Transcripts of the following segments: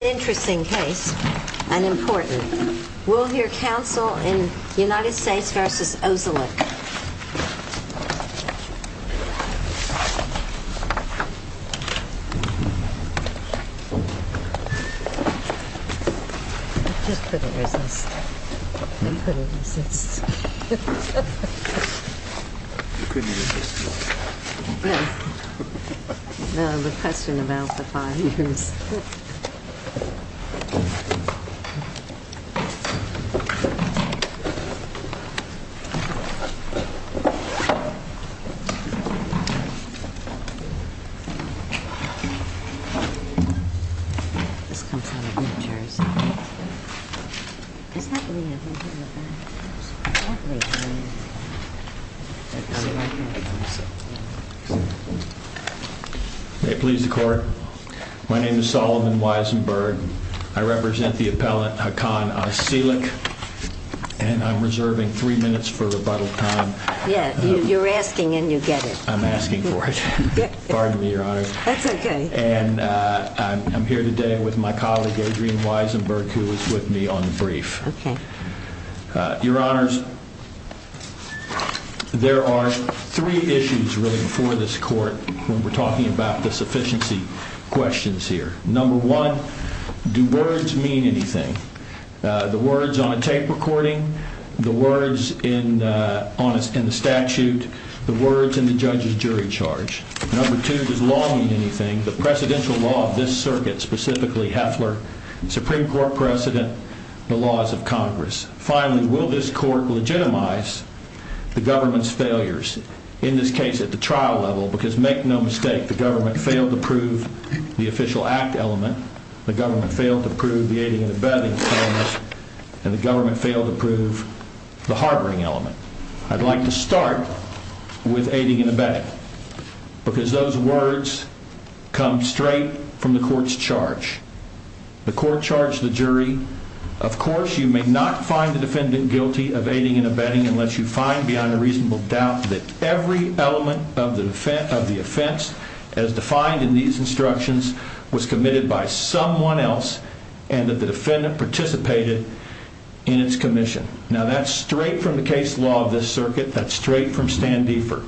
In an interesting case, and important, we'll hear counsel in United States v. Ozcelik May it please the court. My name is Solomon Weisenberg. I represent the United States v. Ozcelik, and I'm here today with my colleague, Adrienne Weisenberg, who is with me on the brief. Your honors, there are three issues really before this court when we're talking about the sufficiency questions here. Number one, do words mean anything? The words on a tape recording, the words in the statute, the words in the judge's jury charge. Number two, does law mean anything? The presidential law of this circuit, specifically Heffler, Supreme Court precedent, the laws of Congress. Finally, will this court legitimize the government's failures in this case at the trial level? Because make no mistake, the government failed to prove the official act element. The government failed to prove the aiding and abetting, and the government failed to prove the harboring element. I'd like to start with aiding and abetting, because those words come straight from the court's charge. The court charged the jury, of course, you may not find the defendant guilty of aiding and abetting unless you find beyond a reasonable doubt that every element of the offense as defined in these instructions was committed by someone else and that the defendant participated in its commission. Now that's straight from the case law of this circuit. That's straight from Stan Defer.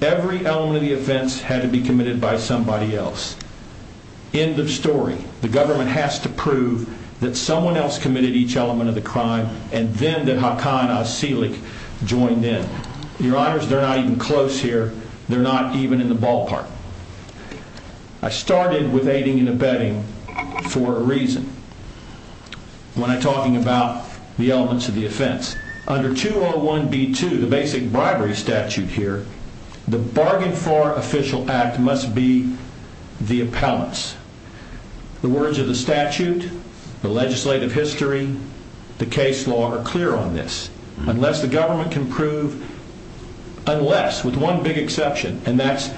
Every element of the offense had to be committed by somebody else. End of story. The government has to prove that someone else committed each element of the crime, and then that Hakan Asilik joined in. Your honors, they're not even close here. They're not even in the ballpark. I started with aiding and abetting for a reason when I'm talking about the elements of the offense. Under 201B2, the basic bribery statute here, the bargain floor official act must be the appellants. The words of the statute, the legislative history, the case law are clear on this. Unless the government can prove, unless, with one big exception, and that's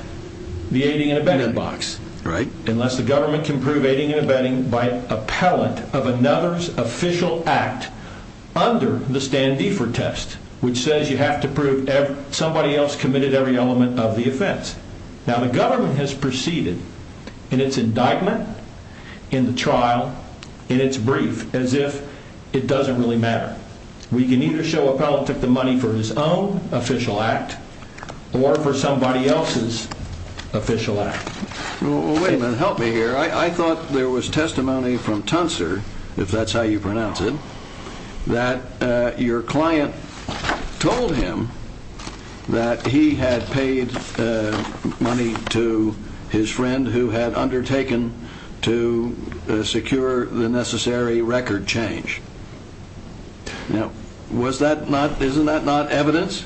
the aiding and abetting box, unless the government can prove aiding and abetting by appellant of another's official act under the Stan Defer test, which says you have to prove somebody else committed every element of the offense. Now the government has proceeded in its indictment, in the trial, in its brief as if it doesn't really matter. We can either show appellant took the money for his own official act or for somebody else's official act. Well, wait a minute. Help me here. I thought there was testimony from Tuncer, if that's how you pronounce it, that your client told him that he had paid money to his friend who had undertaken to secure the necessary record change. Now, was that not, isn't that not evidence?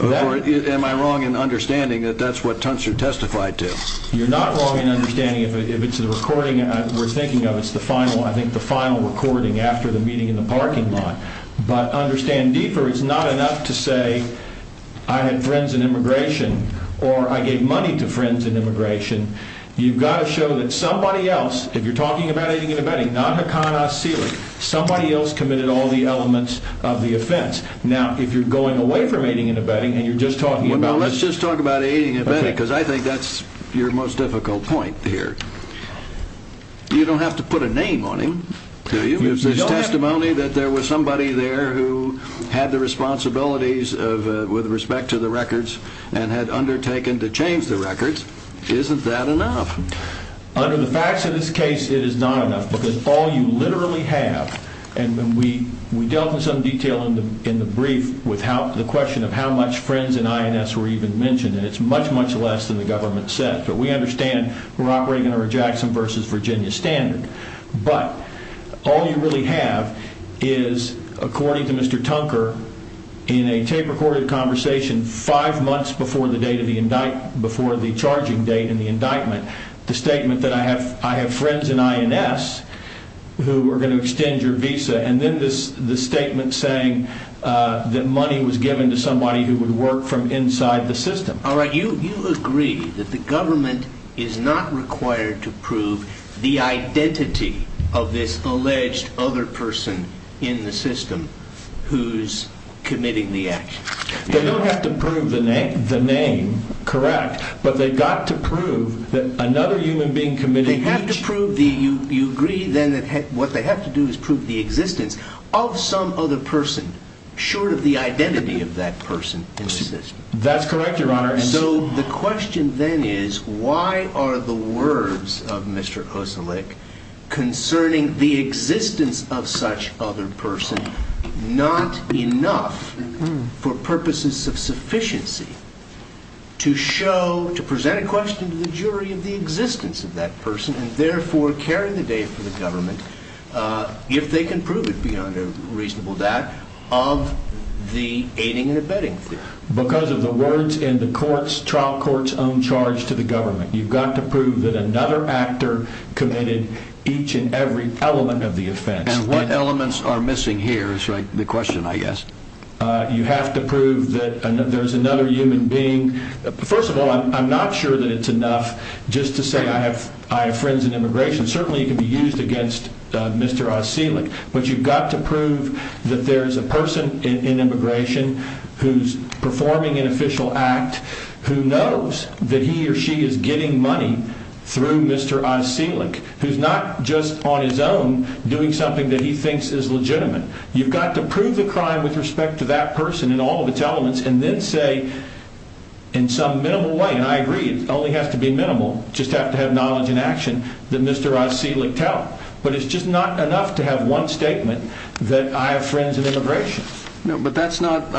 Or am I wrong in understanding that that's what Tuncer testified to? You're not wrong in understanding if it's the recording we're thinking of, it's the final, I think the final recording after the meeting in the parking lot. But understand, Defer is not enough to say I had friends in immigration or I gave money to friends in You've got to show that somebody else, if you're talking about aiding and abetting, not Haqqanah Sealy, somebody else committed all the elements of the offense. Now, if you're going away from aiding and abetting and you're just talking about Let's just talk about aiding and abetting, because I think that's your most difficult point here. You don't have to put a name on him, do you? There's testimony that there was somebody there who had the responsibilities with respect to the records and had undertaken to change the records. Isn't that enough? Under the facts of this case, it is not enough, because all you literally have, and we dealt with some detail in the brief with the question of how much friends in INS were even mentioned, and it's much, much less than the government said. But we understand we're operating under a Jackson versus Virginia standard. But all you really have is, according to Mr. Tuncer, in a tape-recorded conversation five months before the charging date and the indictment, the statement that I have friends in INS who are going to extend your visa, and then the statement saying that money was given to somebody who would work from inside the system. All right. You agree that the government is not required to prove the identity of this human being who is committing the action? They don't have to prove the name, correct, but they've got to prove that another human being committed each... They have to prove the... You agree, then, that what they have to do is prove the existence of some other person, short of the identity of that person in the system? That's correct, Your Honor. So the question, then, is why are the words of Mr. Oselec concerning the existence of that person not enough for purposes of sufficiency to show, to present a question to the jury of the existence of that person, and therefore carry the date for the government, if they can prove it beyond a reasonable doubt, of the aiding and abetting theory? Because of the words in the trial court's own charge to the government. You've got to prove that another actor committed each and every element of the offense. And what elements are missing here, is the question, I guess. You have to prove that there's another human being. First of all, I'm not sure that it's enough just to say I have friends in immigration. Certainly, it could be used against Mr. Oselec, but you've got to prove that there's a person in immigration who's performing an official act who knows that he or she is getting money through Mr. Oselec, who's not just on his own, doing something that he thinks is legitimate. You've got to prove the crime with respect to that person and all of its elements, and then say, in some minimal way, and I agree it only has to be minimal, just have to have knowledge and action, that Mr. Oselec tell. But it's just not enough to have one statement that I have friends in immigration. But that's not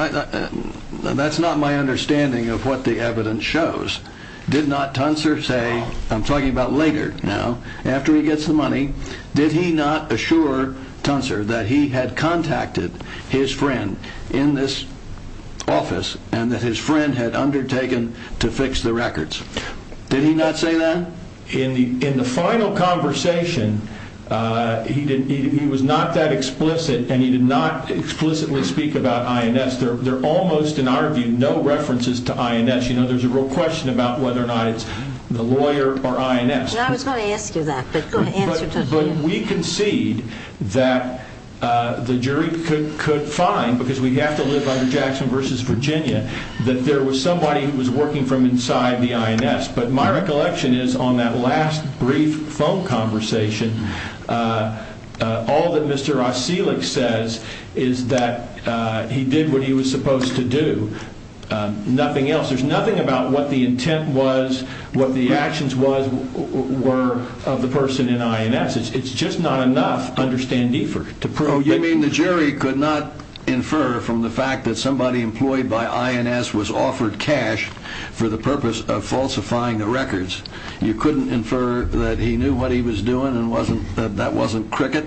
my understanding of what the evidence shows. Did not Tuncer say, I'm talking about later now, after he gets the money, did he not assure Tuncer that he had contacted his friend in this office and that his friend had undertaken to fix the records? Did he not say that? In the final conversation, he was not that explicit, and he did not explicitly speak about INS. There are almost, in our view, no references to INS. There's a real question about whether or not it's the lawyer or INS. And I was going to ask you that, but go ahead and answer Tuncer. But we concede that the jury could find, because we have to live under Jackson v. Virginia, that there was somebody who was working from inside the INS. But my recollection is, on that last brief phone conversation, all that Mr. Oselec says is that he did what he was intended to do, and the intent was what the actions were of the person in INS. It's just not enough to understand deeper. You mean the jury could not infer from the fact that somebody employed by INS was offered cash for the purpose of falsifying the records, you couldn't infer that he knew what he was doing and that wasn't cricket?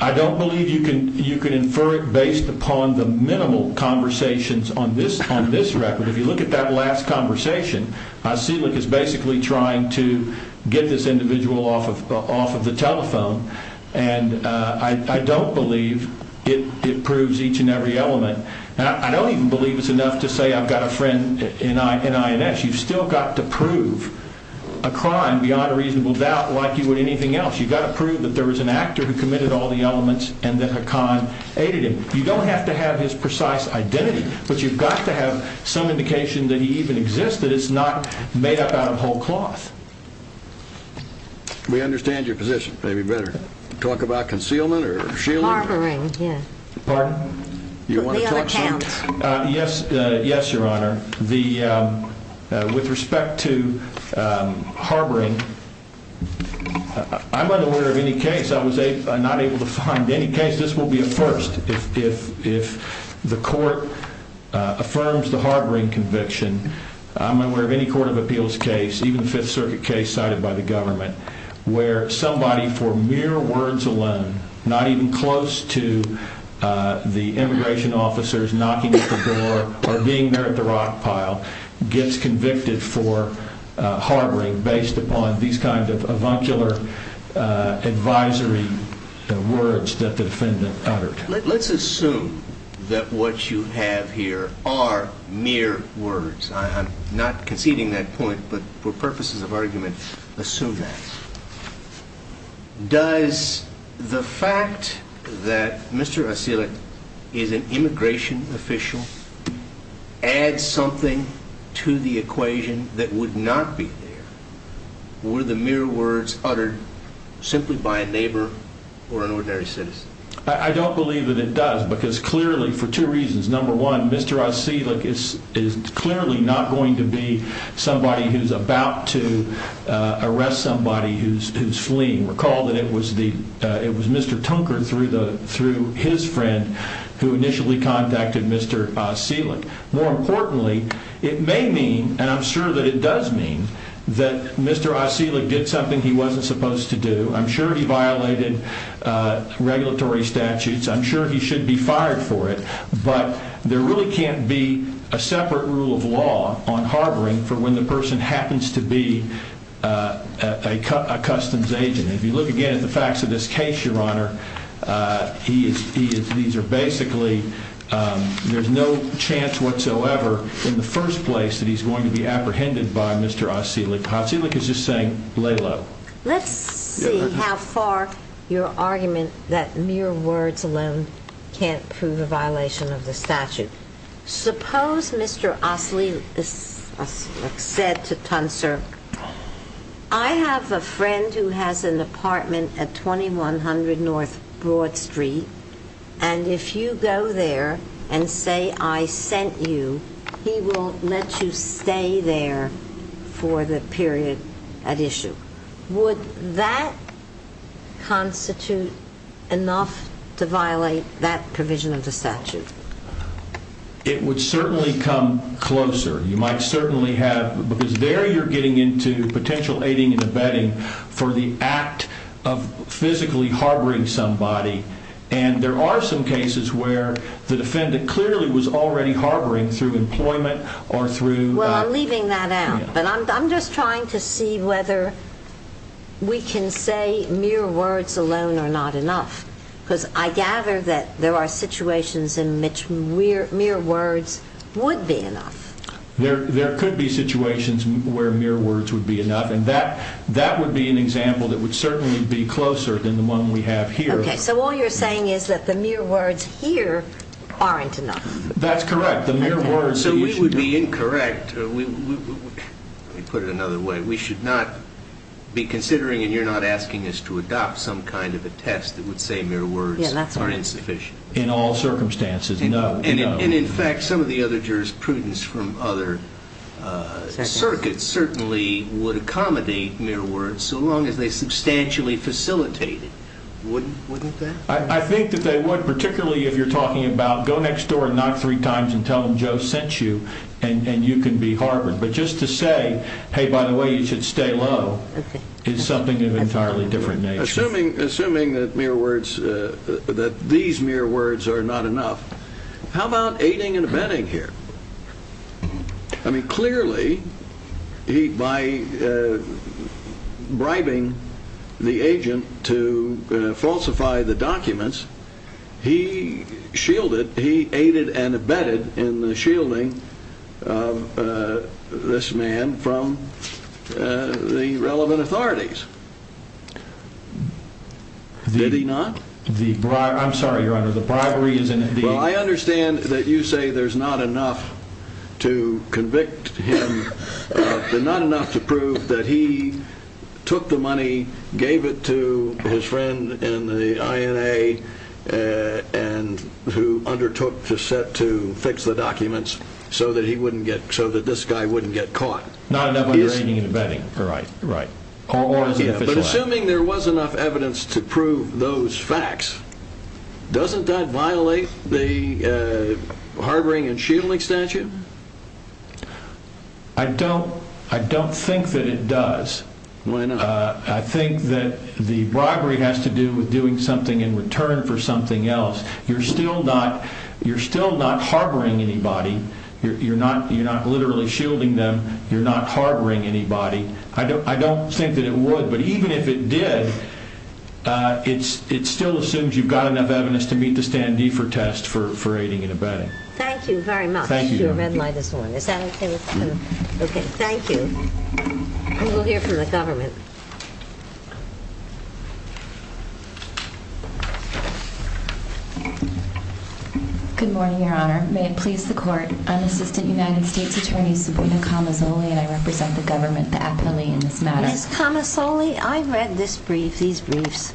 I don't believe you can infer it based upon the minimal conversations on this record. If you look at that last conversation, Oselec is basically trying to get this individual off of the telephone, and I don't believe it proves each and every element. I don't even believe it's enough to say I've got a friend in INS. You've still got to prove a crime beyond a reasonable doubt like you would anything else. You've got to prove that there was an actor who committed all the elements and that a con aided him. You don't have to have a precise identity, but you've got to have some indication that he even existed. It's not made up out of whole cloth. We understand your position. Maybe better talk about concealment or shielding. Harboring, yeah. Pardon? You want to talk? Yes. Yes, Your Honor. With respect to harboring, I'm unaware of any case. I was not able to The court affirms the harboring conviction. I'm aware of any court of appeals case, even the Fifth Circuit case cited by the government, where somebody for mere words alone, not even close to the immigration officers knocking at the door or being there at the rock pile, gets convicted for harboring based upon these kinds of avuncular advisory words that the defendant uttered. Let's assume that what you have here are mere words. I'm not conceding that point, but for purposes of argument, assume that. Does the fact that Mr. Ossielet is an immigration official add something to the equation that would not be there? Were the mere words uttered simply by a neighbor or an ordinary citizen? I don't believe that it does, because clearly, for two reasons. Number one, Mr. Ossielet is clearly not going to be somebody who's about to arrest somebody who's fleeing. Recall that it was Mr. Tunker through his friend who initially contacted Mr. Ossielet. More importantly, it may mean, and I'm sure that it does mean, that Mr. Ossielet did something he wasn't supposed to do. I'm sure he violated regulatory statutes. I'm sure he should be fired for it, but there really can't be a separate rule of law on harboring for when the person happens to be a customs agent. If you look again at the facts of this case, Your Honor, there's no chance whatsoever in the first place that he's going to be apprehended by Mr. Ossielet. Ossielet is just saying, lay low. Let's see how far your argument that mere words alone can't prove a violation of the statute. Suppose Mr. Ossielet said to Tunker, I have a friend who has an apartment at 2100 North Broad Street, and if you go there and say I sent you, he will let you stay there for the period at issue. Would that constitute enough to violate that provision of the statute? It would certainly come closer. You might certainly have, because there you're getting into potential aiding and abetting for the act of physically harboring somebody, and there are some cases where the defendant clearly was already harboring through employment or through Well, I'm leaving that out, but I'm just trying to see whether we can say mere words alone are not enough, because I gather that there are situations in which mere words would be enough. There could be situations where mere words would be enough, and that would be an example that would certainly be closer than the one we have here. Okay, so all you're saying is that the mere words here aren't enough. That's correct. The mere words So we would be incorrect. Let me put it another way. We should not be considering, and you're not asking us to adopt some kind of a test that would say mere words are insufficient. In all circumstances, no. And in fact, some of the other jurisprudence from other circuits certainly would accommodate mere words so long as they substantially facilitate it. Wouldn't that? I think that they would, particularly if you're talking about go next door and knock three times and tell them Joe sent you, and you can be harbored. But just to say, hey, by the way, you should stay low, is something of an entirely different nature. Assuming that mere words, that these mere words are not enough, how about aiding and abetting here? I mean, clearly, he, by bribing the agent to falsify the documents, he shielded, he aided and abetted in the shielding of this man from the relevant authorities. Did he not? The bribery, I'm sorry, your honor, the bribery is in the... Well, I understand that you say there's not enough to convict him, but not enough to prove that he took the money, gave it to his friend in the INA and who undertook to set to fix the documents so that he wouldn't get, so that this guy wouldn't get caught. Not enough under aiding and abetting, right. But assuming there was enough evidence to prove those facts, doesn't that violate the harboring and shielding statute? I don't think that it does. Why not? I think that the bribery has to do with doing something in return for something else. You're still not harboring anybody. You're not literally shielding them. You're not harboring anybody. I don't think that it would, but even if it did, it's still assumed you've got enough evidence to meet the Stan Defer test for aiding and abetting. Thank you very much. Your red light is on. Is that okay with you? Okay, thank you. We'll hear from the government. Good morning, your honor. May it please the court. I'm Assistant United States Attorney Saboita Kamasoli, and I represent the government aptly in this matter. Ms. Kamasoli, I read this brief, these briefs,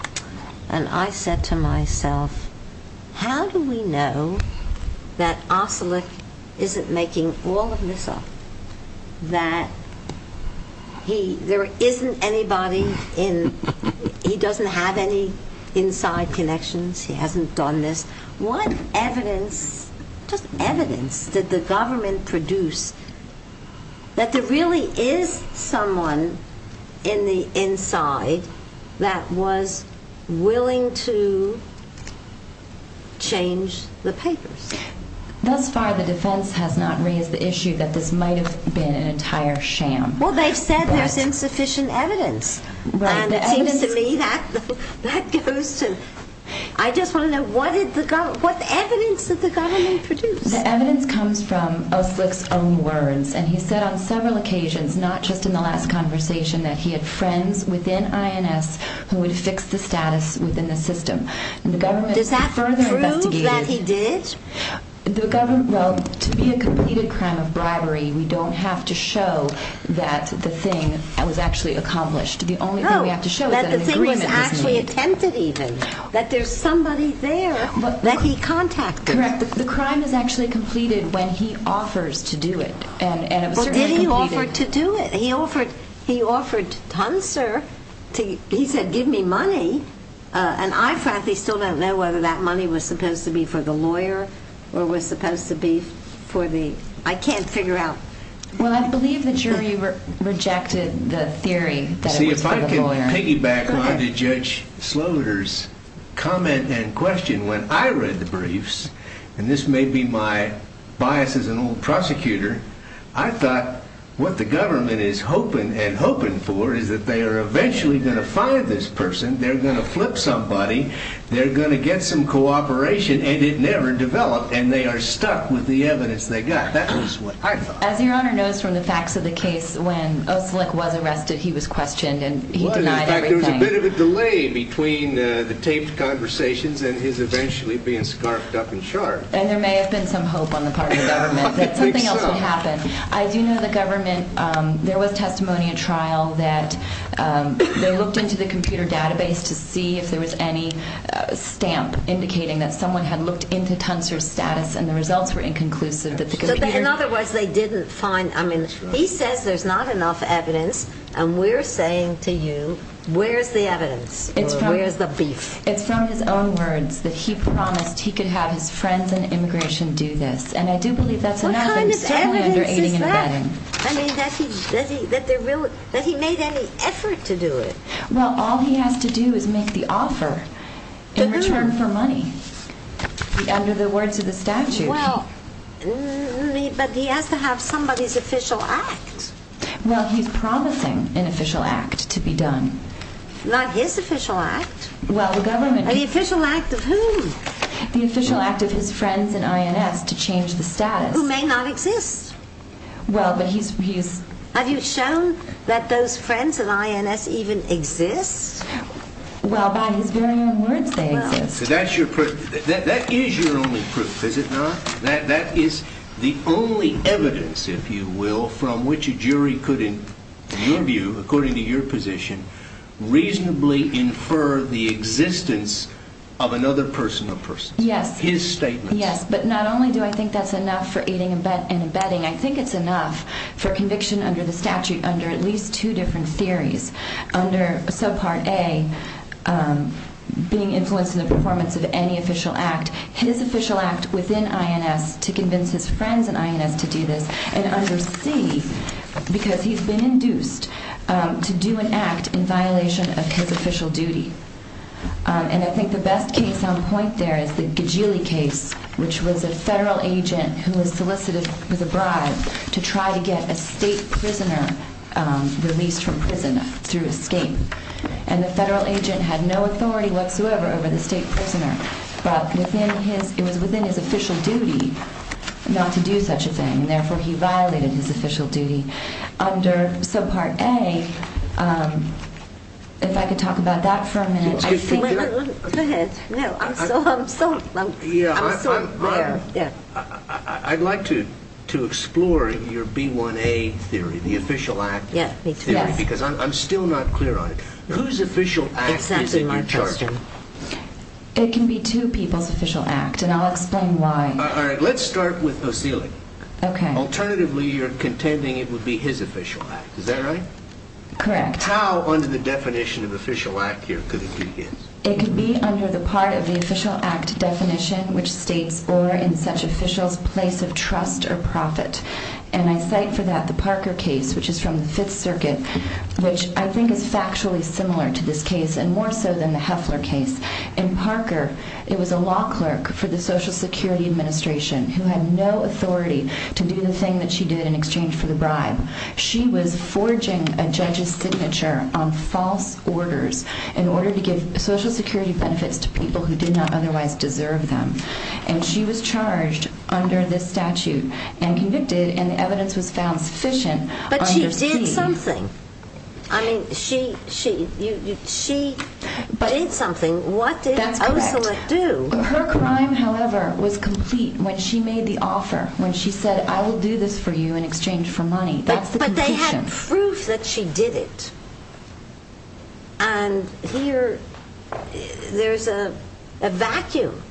and I said to myself, how do we know that Oselic isn't making all of this up? That he, there isn't anybody in, he doesn't have any inside connections. He hasn't done this. What evidence, just evidence, did the government produce that there really is someone in the inside that was willing to change the papers? Thus far, the defense has not raised the issue that this might have been an entire sham. Well, they've said there's insufficient evidence. And it seems to me that goes to, I just want to know, what did the government, what evidence did the government produce? The evidence comes from Oselic's own words. And he said on several occasions, not just in the last conversation, that he had friends within INS who would fix the status within the system. And the government further investigated. Does that prove that he did? The government, well, to be a completed crime of bribery, we don't have to show that the thing was actually accomplished. The only thing we have to show is that an agreement was made. No, that the thing was actually attempted, even. That there's somebody there that he contacted. Correct. But the crime is actually completed when he offers to do it. And it was certainly completed. Well, did he offer to do it? He offered, he offered Hunser to, he said, give me money. And I frankly still don't know whether that money was supposed to be for the lawyer or was supposed to be for the, I can't figure out. Well, I believe the jury rejected the theory that it was for the lawyer. Let me piggyback on to Judge Slaughter's comment and question. When I read the briefs, and this may be my bias as an old prosecutor, I thought what the government is hoping and hoping for is that they are eventually going to find this person, they're going to flip somebody, they're going to get some cooperation, and it never developed. And they are stuck with the evidence they got. That was what I thought. As your Honor knows from the facts of the case, when Oslik was arrested, he was questioned and he denied everything. Well, in fact, there was a bit of a delay between the taped conversations and his eventually being scarfed up and charged. And there may have been some hope on the part of the government that something else would happen. I think so. As you know, the government, there was testimony in trial that they looked into the computer database to see if there was any stamp indicating that someone had looked into Hunser's status and the results were inconclusive that the computer... So, in other words, they didn't find, I mean, he says there's not enough evidence and we're saying to you, where's the evidence? Where's the beef? It's from his own words that he promised he could have his friends in immigration do this. And I do believe that's enough. What kind of evidence is that? I mean, that he made any effort to do it. Well, all he has to do is make the offer in return for money. Under the words of the statute. Well, but he has to have somebody's official act. Well, he's promising an official act to be done. Not his official act. Well, the government... The official act of whom? The official act of his friends in INS to change the status. Who may not exist. Well, but he's... Have you shown that those friends in INS even exist? Well, by his very own words they exist. So, that's your proof. That is your only proof, is it not? That is the only evidence, if you will, from which a jury could, in your view, according to your position, reasonably infer the existence of another personal person. Yes. His statement. Yes, but not only do I think that's enough for aiding and abetting, I think it's enough for conviction under the statute under at least two different theories. Under subpart A, being influenced in the performance of any official act. His official act within INS to convince his friends in INS to do this. And under C, because he's been induced to do an act in violation of his official duty. And I think the best case on point there is the Gigilli case, which was a federal agent who was solicited with a bribe to try to get a state prisoner released from prison through escape. And the federal agent had no authority whatsoever over the state prisoner. But it was within his official duty not to do such a thing, and therefore he violated his official duty. Under subpart A, if I could talk about that for a minute, I think... Go ahead. No, I'm so... I'm so... Yeah, I'd like to explore your B1A theory, the official act. Yeah, B2A. Because I'm still not clear on it. Whose official act is in your chart? It can be two people's official act, and I'll explain why. All right, let's start with O'Seeley. Okay. Alternatively, you're contending it would be his official act, is that right? Correct. How under the definition of official act here could it be his? It could be under the part of the official act definition, which states, or in such officials' place of trust or profit. And I cite for that the Parker case, which is from the Fifth Circuit, which I think is factually similar to this case, and more so than the Heffler case. In Parker, it was a law clerk for the Social Security Administration who had no authority to do the thing that she did in exchange for the bribe. She was forging a judge's signature on false orders in order to give Social Security benefits to people who did not otherwise deserve them. And she was charged under this statute and convicted, and the evidence was found sufficient... But she did something. I mean, she did something. What did O'Seeley do? That's correct. Her crime, however, was complete when she made the offer, when she said, I will do this for you in exchange for money. That's the conclusion. But they had proof that she did it. And here, there's a vacuum.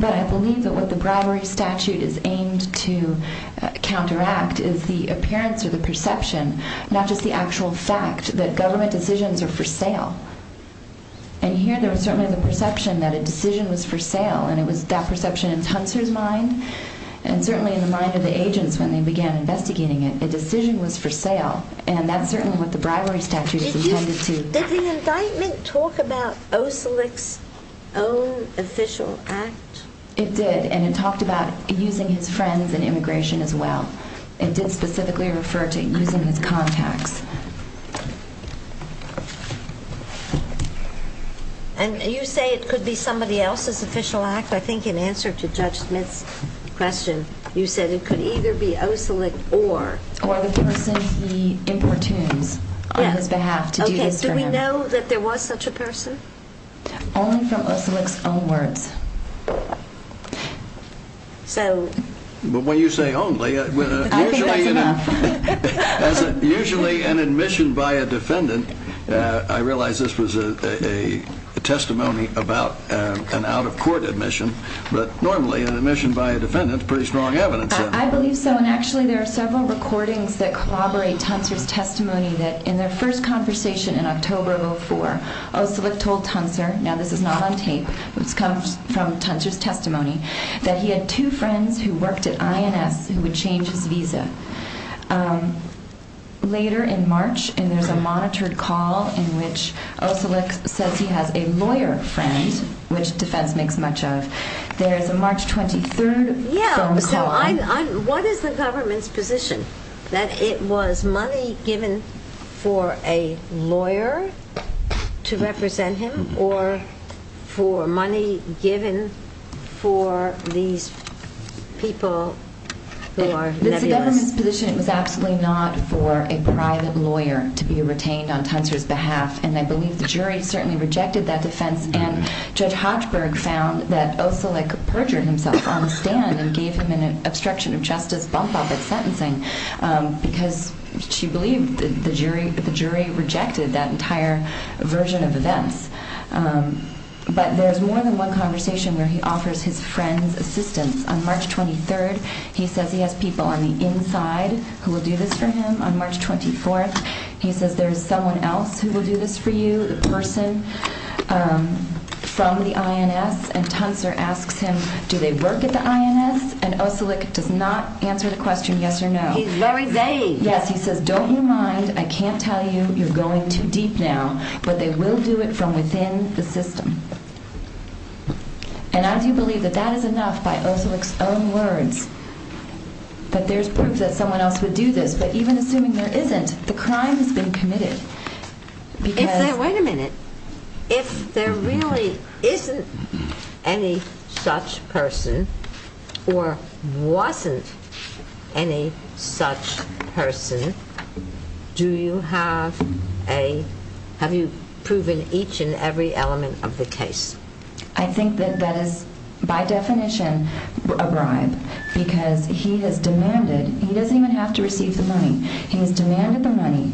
But I believe that what the bribery statute is aimed to counteract is the appearance or the perception, not just the actual fact, that government decisions are for sale. And here, there was certainly the perception that a decision was for sale, and it was that perception in Tuncer's mind, and certainly in the mind of the agents when they began investigating it. A decision was for sale. And that's certainly what the bribery statute is intended to... Did the indictment talk about O'Seeley's own official act? It did, and it talked about using his friends in immigration as well. It did specifically refer to using his contacts. And you say it could be somebody else's official act? I think in answer to Judge Smith's question, you said it could either be O'Seeley or... Or the person he importunes on his behalf to do this for him. Only from O'Seeley's own words. So... But when you say only... I think that's enough. Usually an admission by a defendant... I realize this was a testimony about an out-of-court admission, but normally an admission by a defendant is pretty strong evidence. I believe so, and actually there are several recordings that collaborate Tuncer's testimony that in their first conversation in October of 2004, O'Seeley told Tuncer, now this is not on tape, it comes from Tuncer's testimony, that he had two friends who worked at INS who would change his visa. Later in March, and there's a monitored call in which O'Seeley says he has a lawyer friend, which defense makes much of, there's a March 23rd phone call... Yeah, so what is the government's position? That it was money given for a lawyer? To represent him? Or for money given for these people who are nebulous? It's the government's position it was absolutely not for a private lawyer to be retained on Tuncer's behalf, and I believe the jury certainly rejected that defense, and Judge Hochberg found that O'Seeley perjured himself on the stand and gave him an obstruction of justice bump-up at sentencing because she believed that the jury rejected that entire version of events. But there's more than one conversation where he offers his friends assistance. On March 23rd he says he has people on the inside who will do this for him. On March 24th he says there's someone else who will do this for you, the person from the INS. And Tuncer asks him, do they work at the INS? And O'Seeley does not answer the question yes or no. He's very vague. Yes, he says don't you mind, I can't tell you you're going too deep now, but they will do it from within the system. And I do believe that that is enough by O'Seeley's own words, that there's proof that someone else would do this, but even assuming there isn't, the crime has been committed. If there, wait a minute, if there really isn't any such person or wasn't any such person, do you have a, have you proven each and every element of the case? I think that that is by definition a bribe because he has demanded, he doesn't even have to receive the money, he has demanded the money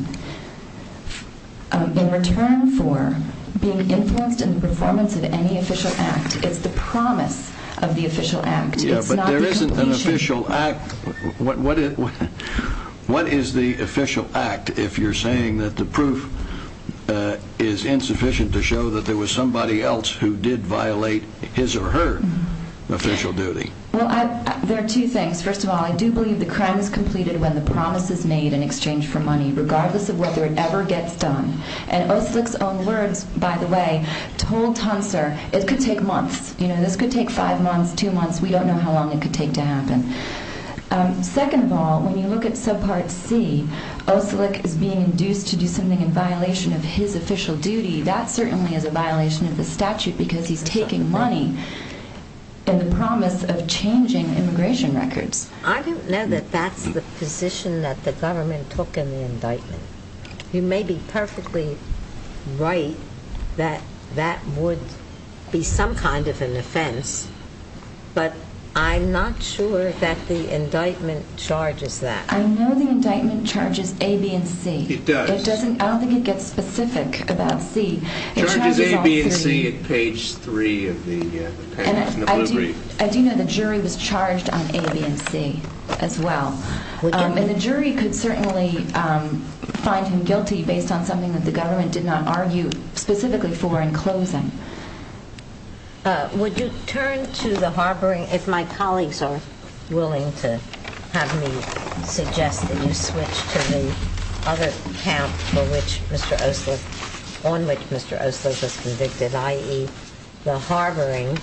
in return for being influenced in the performance of any official act. It's the promise of the official act. Yeah, but there isn't an official act. What is the official act if you're saying that the proof is insufficient to show that there was somebody else who did violate his or her official duty? Well, there are two things. First of all, I do believe the crime is completed when the promise is made in exchange for money, regardless of whether it ever gets done. And Oslik's own words, by the way, told Tuncer it could take months. You know, this could take five months, two months, we don't know how long it could take to happen. Second of all, when you look at subpart C, Oslik is being induced to do something in violation of his official duty, that certainly is a violation of the statute because he's taking money in the promise of changing immigration records. I don't know that that's the position that the government took in the indictment. You may be perfectly right that that would be some kind of an offense, but I'm not sure that the indictment charges that. I know the indictment charges A, B, and C. It does. It doesn't, I don't think it gets specific about C. It charges A, B, and C at page three of the papers in the Blue Brief. I do know the jury was charged on A, B, and C as well. And the jury could certainly find him guilty based on something that the government did not argue specifically for in closing. Would you turn to the harboring, if my colleagues are willing to have me suggest that you switch to the other account for which Mr. Oslik, on which Mr. Oslik was convicted, i.e. the harboring,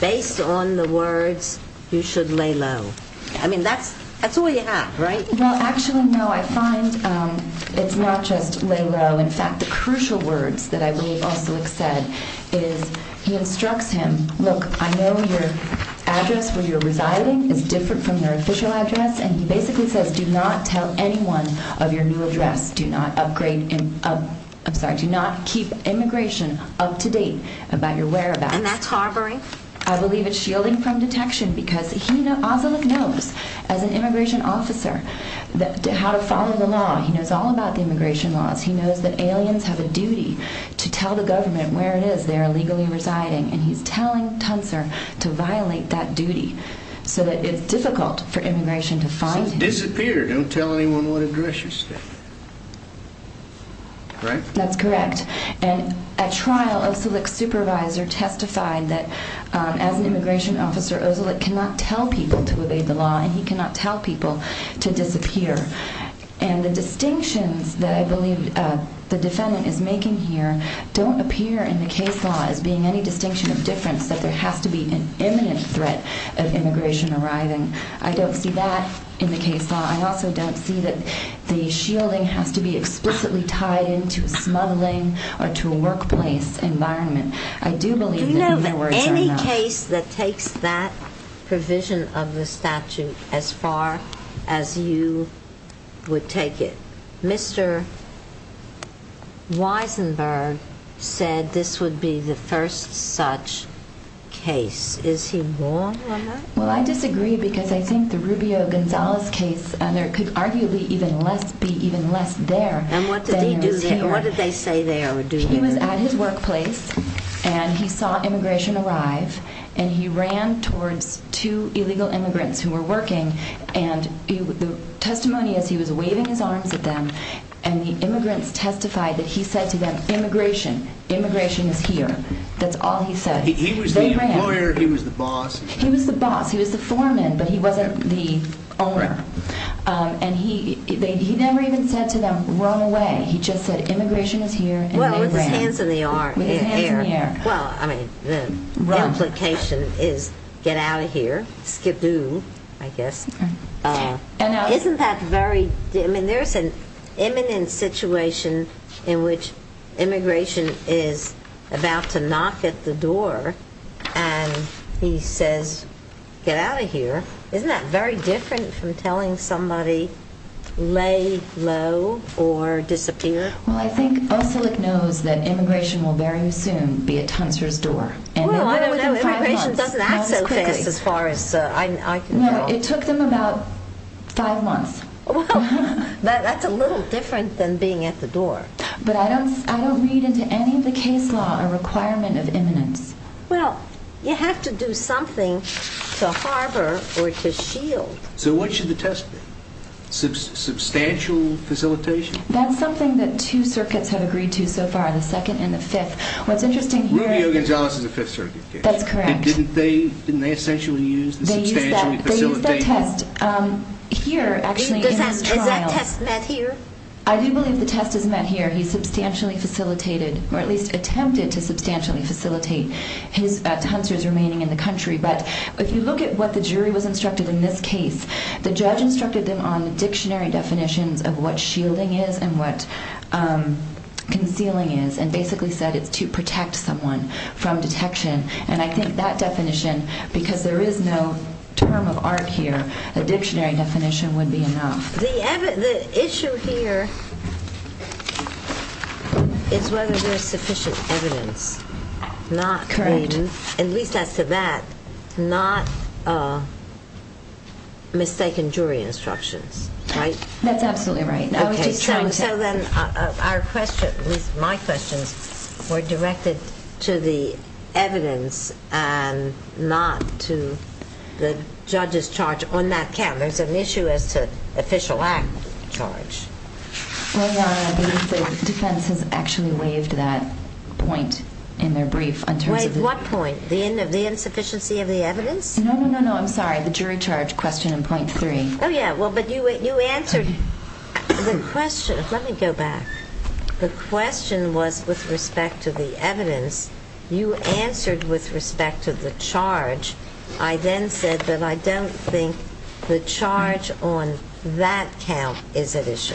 based on the words, you should lay low. I mean, that's all you have, right? Well, actually, no, I find it's not just lay low. In fact, the crucial words that I believe Oslik said is he instructs him, look, I know your address where you're residing is different from your official address. And he basically says, do not tell anyone of your new address. Do not upgrade, I'm sorry, do not keep immigration up to date about your whereabouts. And that's harboring? I believe it's shielding from detection because Oslik knows, as an immigration officer, how to follow the law. He knows all about the immigration laws. He knows that aliens have a duty to tell the government where it is they are legally residing. And he's telling Tuncer to violate that duty so that it's difficult for immigration to find him. So disappear, don't tell anyone what address you stay. Right? That's correct. And at trial, Oslik's supervisor testified that as an immigration officer, Oslik cannot tell people to obey the law and he cannot tell people to disappear. And the distinctions that I believe the defendant is making here don't appear in the case law as being any distinction of difference that there has to be an imminent threat of immigration arriving. I don't see that in the case law. I also don't see that the shielding has to be explicitly tied into a smuggling or to a workplace environment. Do you know of any case that takes that provision of the statute as far as you would take it? Mr. Weisenberg said this would be the first such case. Is he wrong on that? Well, I disagree because I think the Rubio-Gonzalez case could arguably be even less there. And what did they say they would do there? He was at his workplace and he saw immigration arrive and he ran towards two illegal immigrants who were working and the testimony is he was waving his arms at them and the immigrants testified that he said to them, immigration, immigration is here. That's all he said. He was the employer, he was the boss. He was the boss. He was the foreman, but he wasn't the owner. And he never even said to them, run away. He just said immigration is here and they ran. Well, with his hands in the air. Well, I mean, the implication is get out of here, skidoo, I guess. Isn't that very, I mean, there's an imminent situation in which immigration is about to knock at the door and he says get out of here. Isn't that very different from telling somebody to lay low or disappear? Well, I think Osillick knows that immigration will very soon be at Tuncer's door. Well, I don't know. Immigration doesn't act so fast as far as I can tell. No, it took them about five months. Well, that's a little different than being at the door. But I don't read into any of the case law a requirement of imminence. Well, you have to do something to harbor or to shield. So what should the test be? Substantial facilitation? That's something that two circuits have agreed to so far, the second and the fifth. What's interesting here is... Rubio-Gonzalez is the fifth circuit case. That's correct. And didn't they essentially use the substantial facilitation? They used that test here actually in his trials. Is that test met here? I do believe the test is met here. He substantially facilitated or at least attempted to substantially facilitate Tuncer's remaining in the country. But if you look at what the jury was instructed in this case, the judge instructed them on the dictionary definitions of what shielding is and what concealing is and basically said it's to protect someone from detection. And I think that definition, because there is no term of art here, a dictionary definition would be enough. The issue here is whether there's sufficient evidence. Correct. And at least as to that, not mistaken jury instructions, right? That's absolutely right. Okay, so then our question, at least my questions, were directed to the evidence and not to the judge's charge on that count. There's an issue as to official act charge. Well, the defense has actually waived that point in their brief. Wait, what point? The insufficiency of the evidence? No, no, no, no, I'm sorry. The jury charge question in point three. Oh, yeah, well, but you answered the question. Let me go back. The question was with respect to the evidence. You answered with respect to the charge. I then said that I don't think the charge on that count is at issue.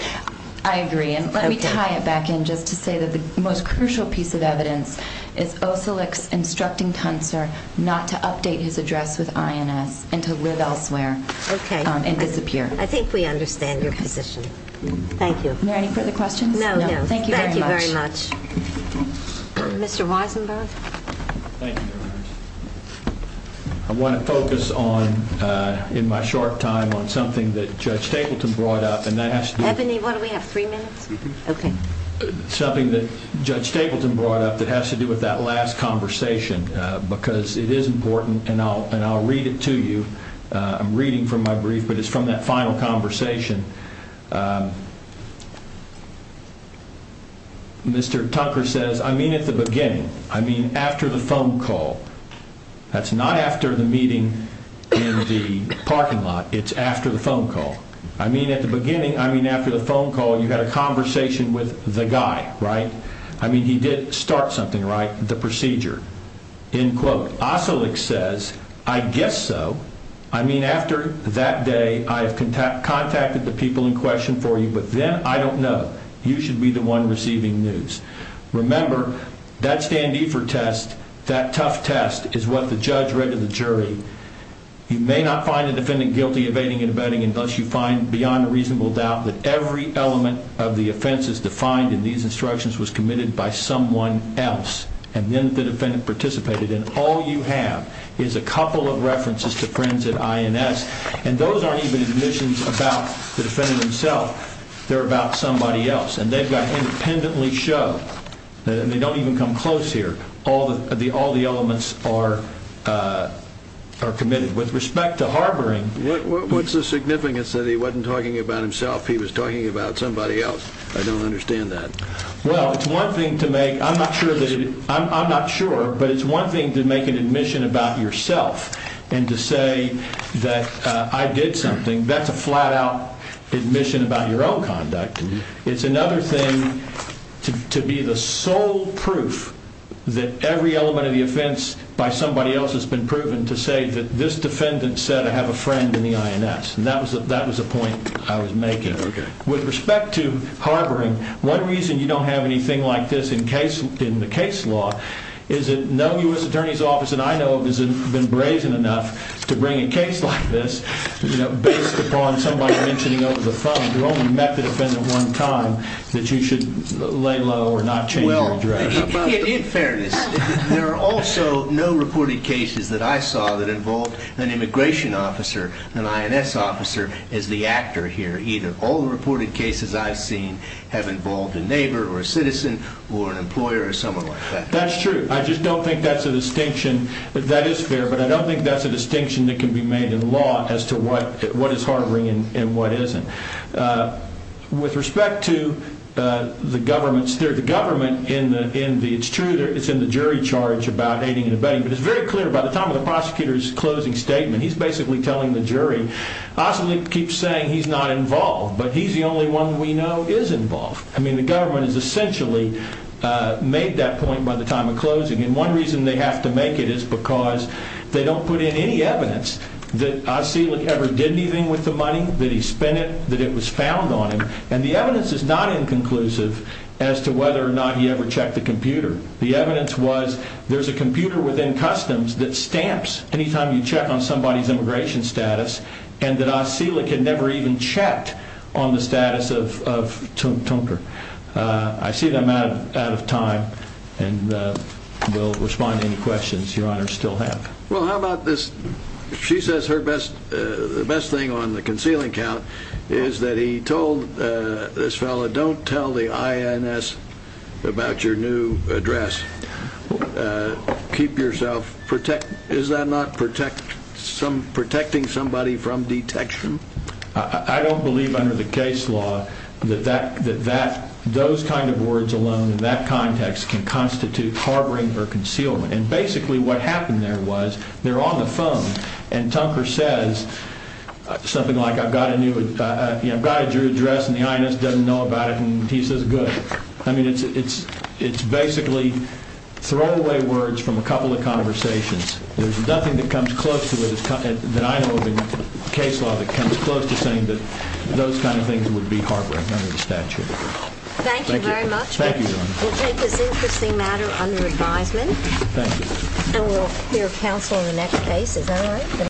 I agree. And let me tie it back in just to say that the most crucial piece of evidence is Osilik's instructing Tuncer not to update his address with INS and to live elsewhere and disappear. Okay, I think we understand your position. Thank you. Are there any further questions? No, no, thank you very much. Thank you very much. Mr. Weisenberg? Thank you, Your Honor. I want to focus on, in my short time, on something that Judge Tableton brought up. Ebony, what do we have, 3 minutes? Okay. Something that Judge Tableton brought up that has to do with that last conversation because it is important, and I'll read it to you. I'm reading from my brief, but it's from that final conversation. Mr. Tucker says, I mean at the beginning. I mean after the phone call. That's not after the meeting in the parking lot. It's after the phone call. I mean at the beginning. I mean after the phone call. You had a conversation with the guy, right? I mean he did start something, right? The procedure. In quote. Oselick says, I guess so. I mean after that day, I have contacted the people in question for you, but then I don't know. You should be the one receiving news. Remember, that standeefer test, that tough test, is what the judge read to the jury. You may not find a defendant guilty of aiding and abetting unless you find beyond a reasonable doubt that every element of the offense is defined in these instructions was committed by someone else. And then the defendant participated. And all you have is a couple of references to friends at INS. And those aren't even admissions about the defendant himself. They're about somebody else. And they've got independently show. They don't even come close here. All the elements are committed. With respect to harboring. What's the significance that he wasn't talking about himself? He was talking about somebody else. I don't understand that. Well, it's one thing to make. I'm not sure. I'm not sure. But it's one thing to make an admission about yourself. And to say that I did something. That's a flat out admission about your own conduct. It's another thing to be the sole proof that every element of the offense by somebody else has been proven to say that this defendant said I have a friend in the INS. And that was a point I was making. Okay. With respect to harboring, one reason you don't have anything like this in the case law is that no U.S. Attorney's Office that I know of has been brazen enough to bring a case like this based upon somebody mentioning over the phone you only met the defendant one time that you should lay low or not change your address. Well, in fairness, there are also no reported cases that I saw that involved an immigration officer, an INS officer as the actor here either. All the reported cases I've seen have involved a neighbor or a citizen or an employer or someone like that. That's true. I just don't think that's a distinction. That is fair. But I don't think that's a distinction that can be made in law as to what is harboring and what isn't. With respect to the government, it's true it's in the jury charge about aiding and abetting. But it's very clear by the time of the prosecutor's closing statement, he's basically telling the jury Asli keeps saying he's not involved, but he's the only one we know is involved. I mean, the government has essentially made that point by the time of closing. And one reason they have to make it is because they don't put in any evidence that Asli ever did anything with the money, that he spent it, that it was found on him. And the evidence is not inconclusive as to whether or not he ever checked the computer. The evidence was there's a computer within customs that stamps any time you check on somebody's immigration status and that Asli had never even checked on the status of Tunker. I see that I'm out of time and will respond to any questions Your Honor still have. Well, how about this? She says her best, the best thing on the concealing count is that he told this fellow, don't tell the INS about your new address. Keep yourself protect. Is that not protect some protecting somebody from detection? I don't believe under the case law that that that that those kind of words alone in that context can constitute harboring or concealment. And basically what happened there was they're on the phone and Tunker says something like I've got a new, I've got a new address and the INS doesn't know about it. And he says, good. I mean, it's it's it's basically throw away words from a couple of conversations. There's nothing that comes close to it that I know of in case law that comes close to saying that those kind of things would be harboring under the statute. Thank you very much. Thank you. We'll take this interesting matter under advisement. And we'll hear counsel in the next case. Is that all right?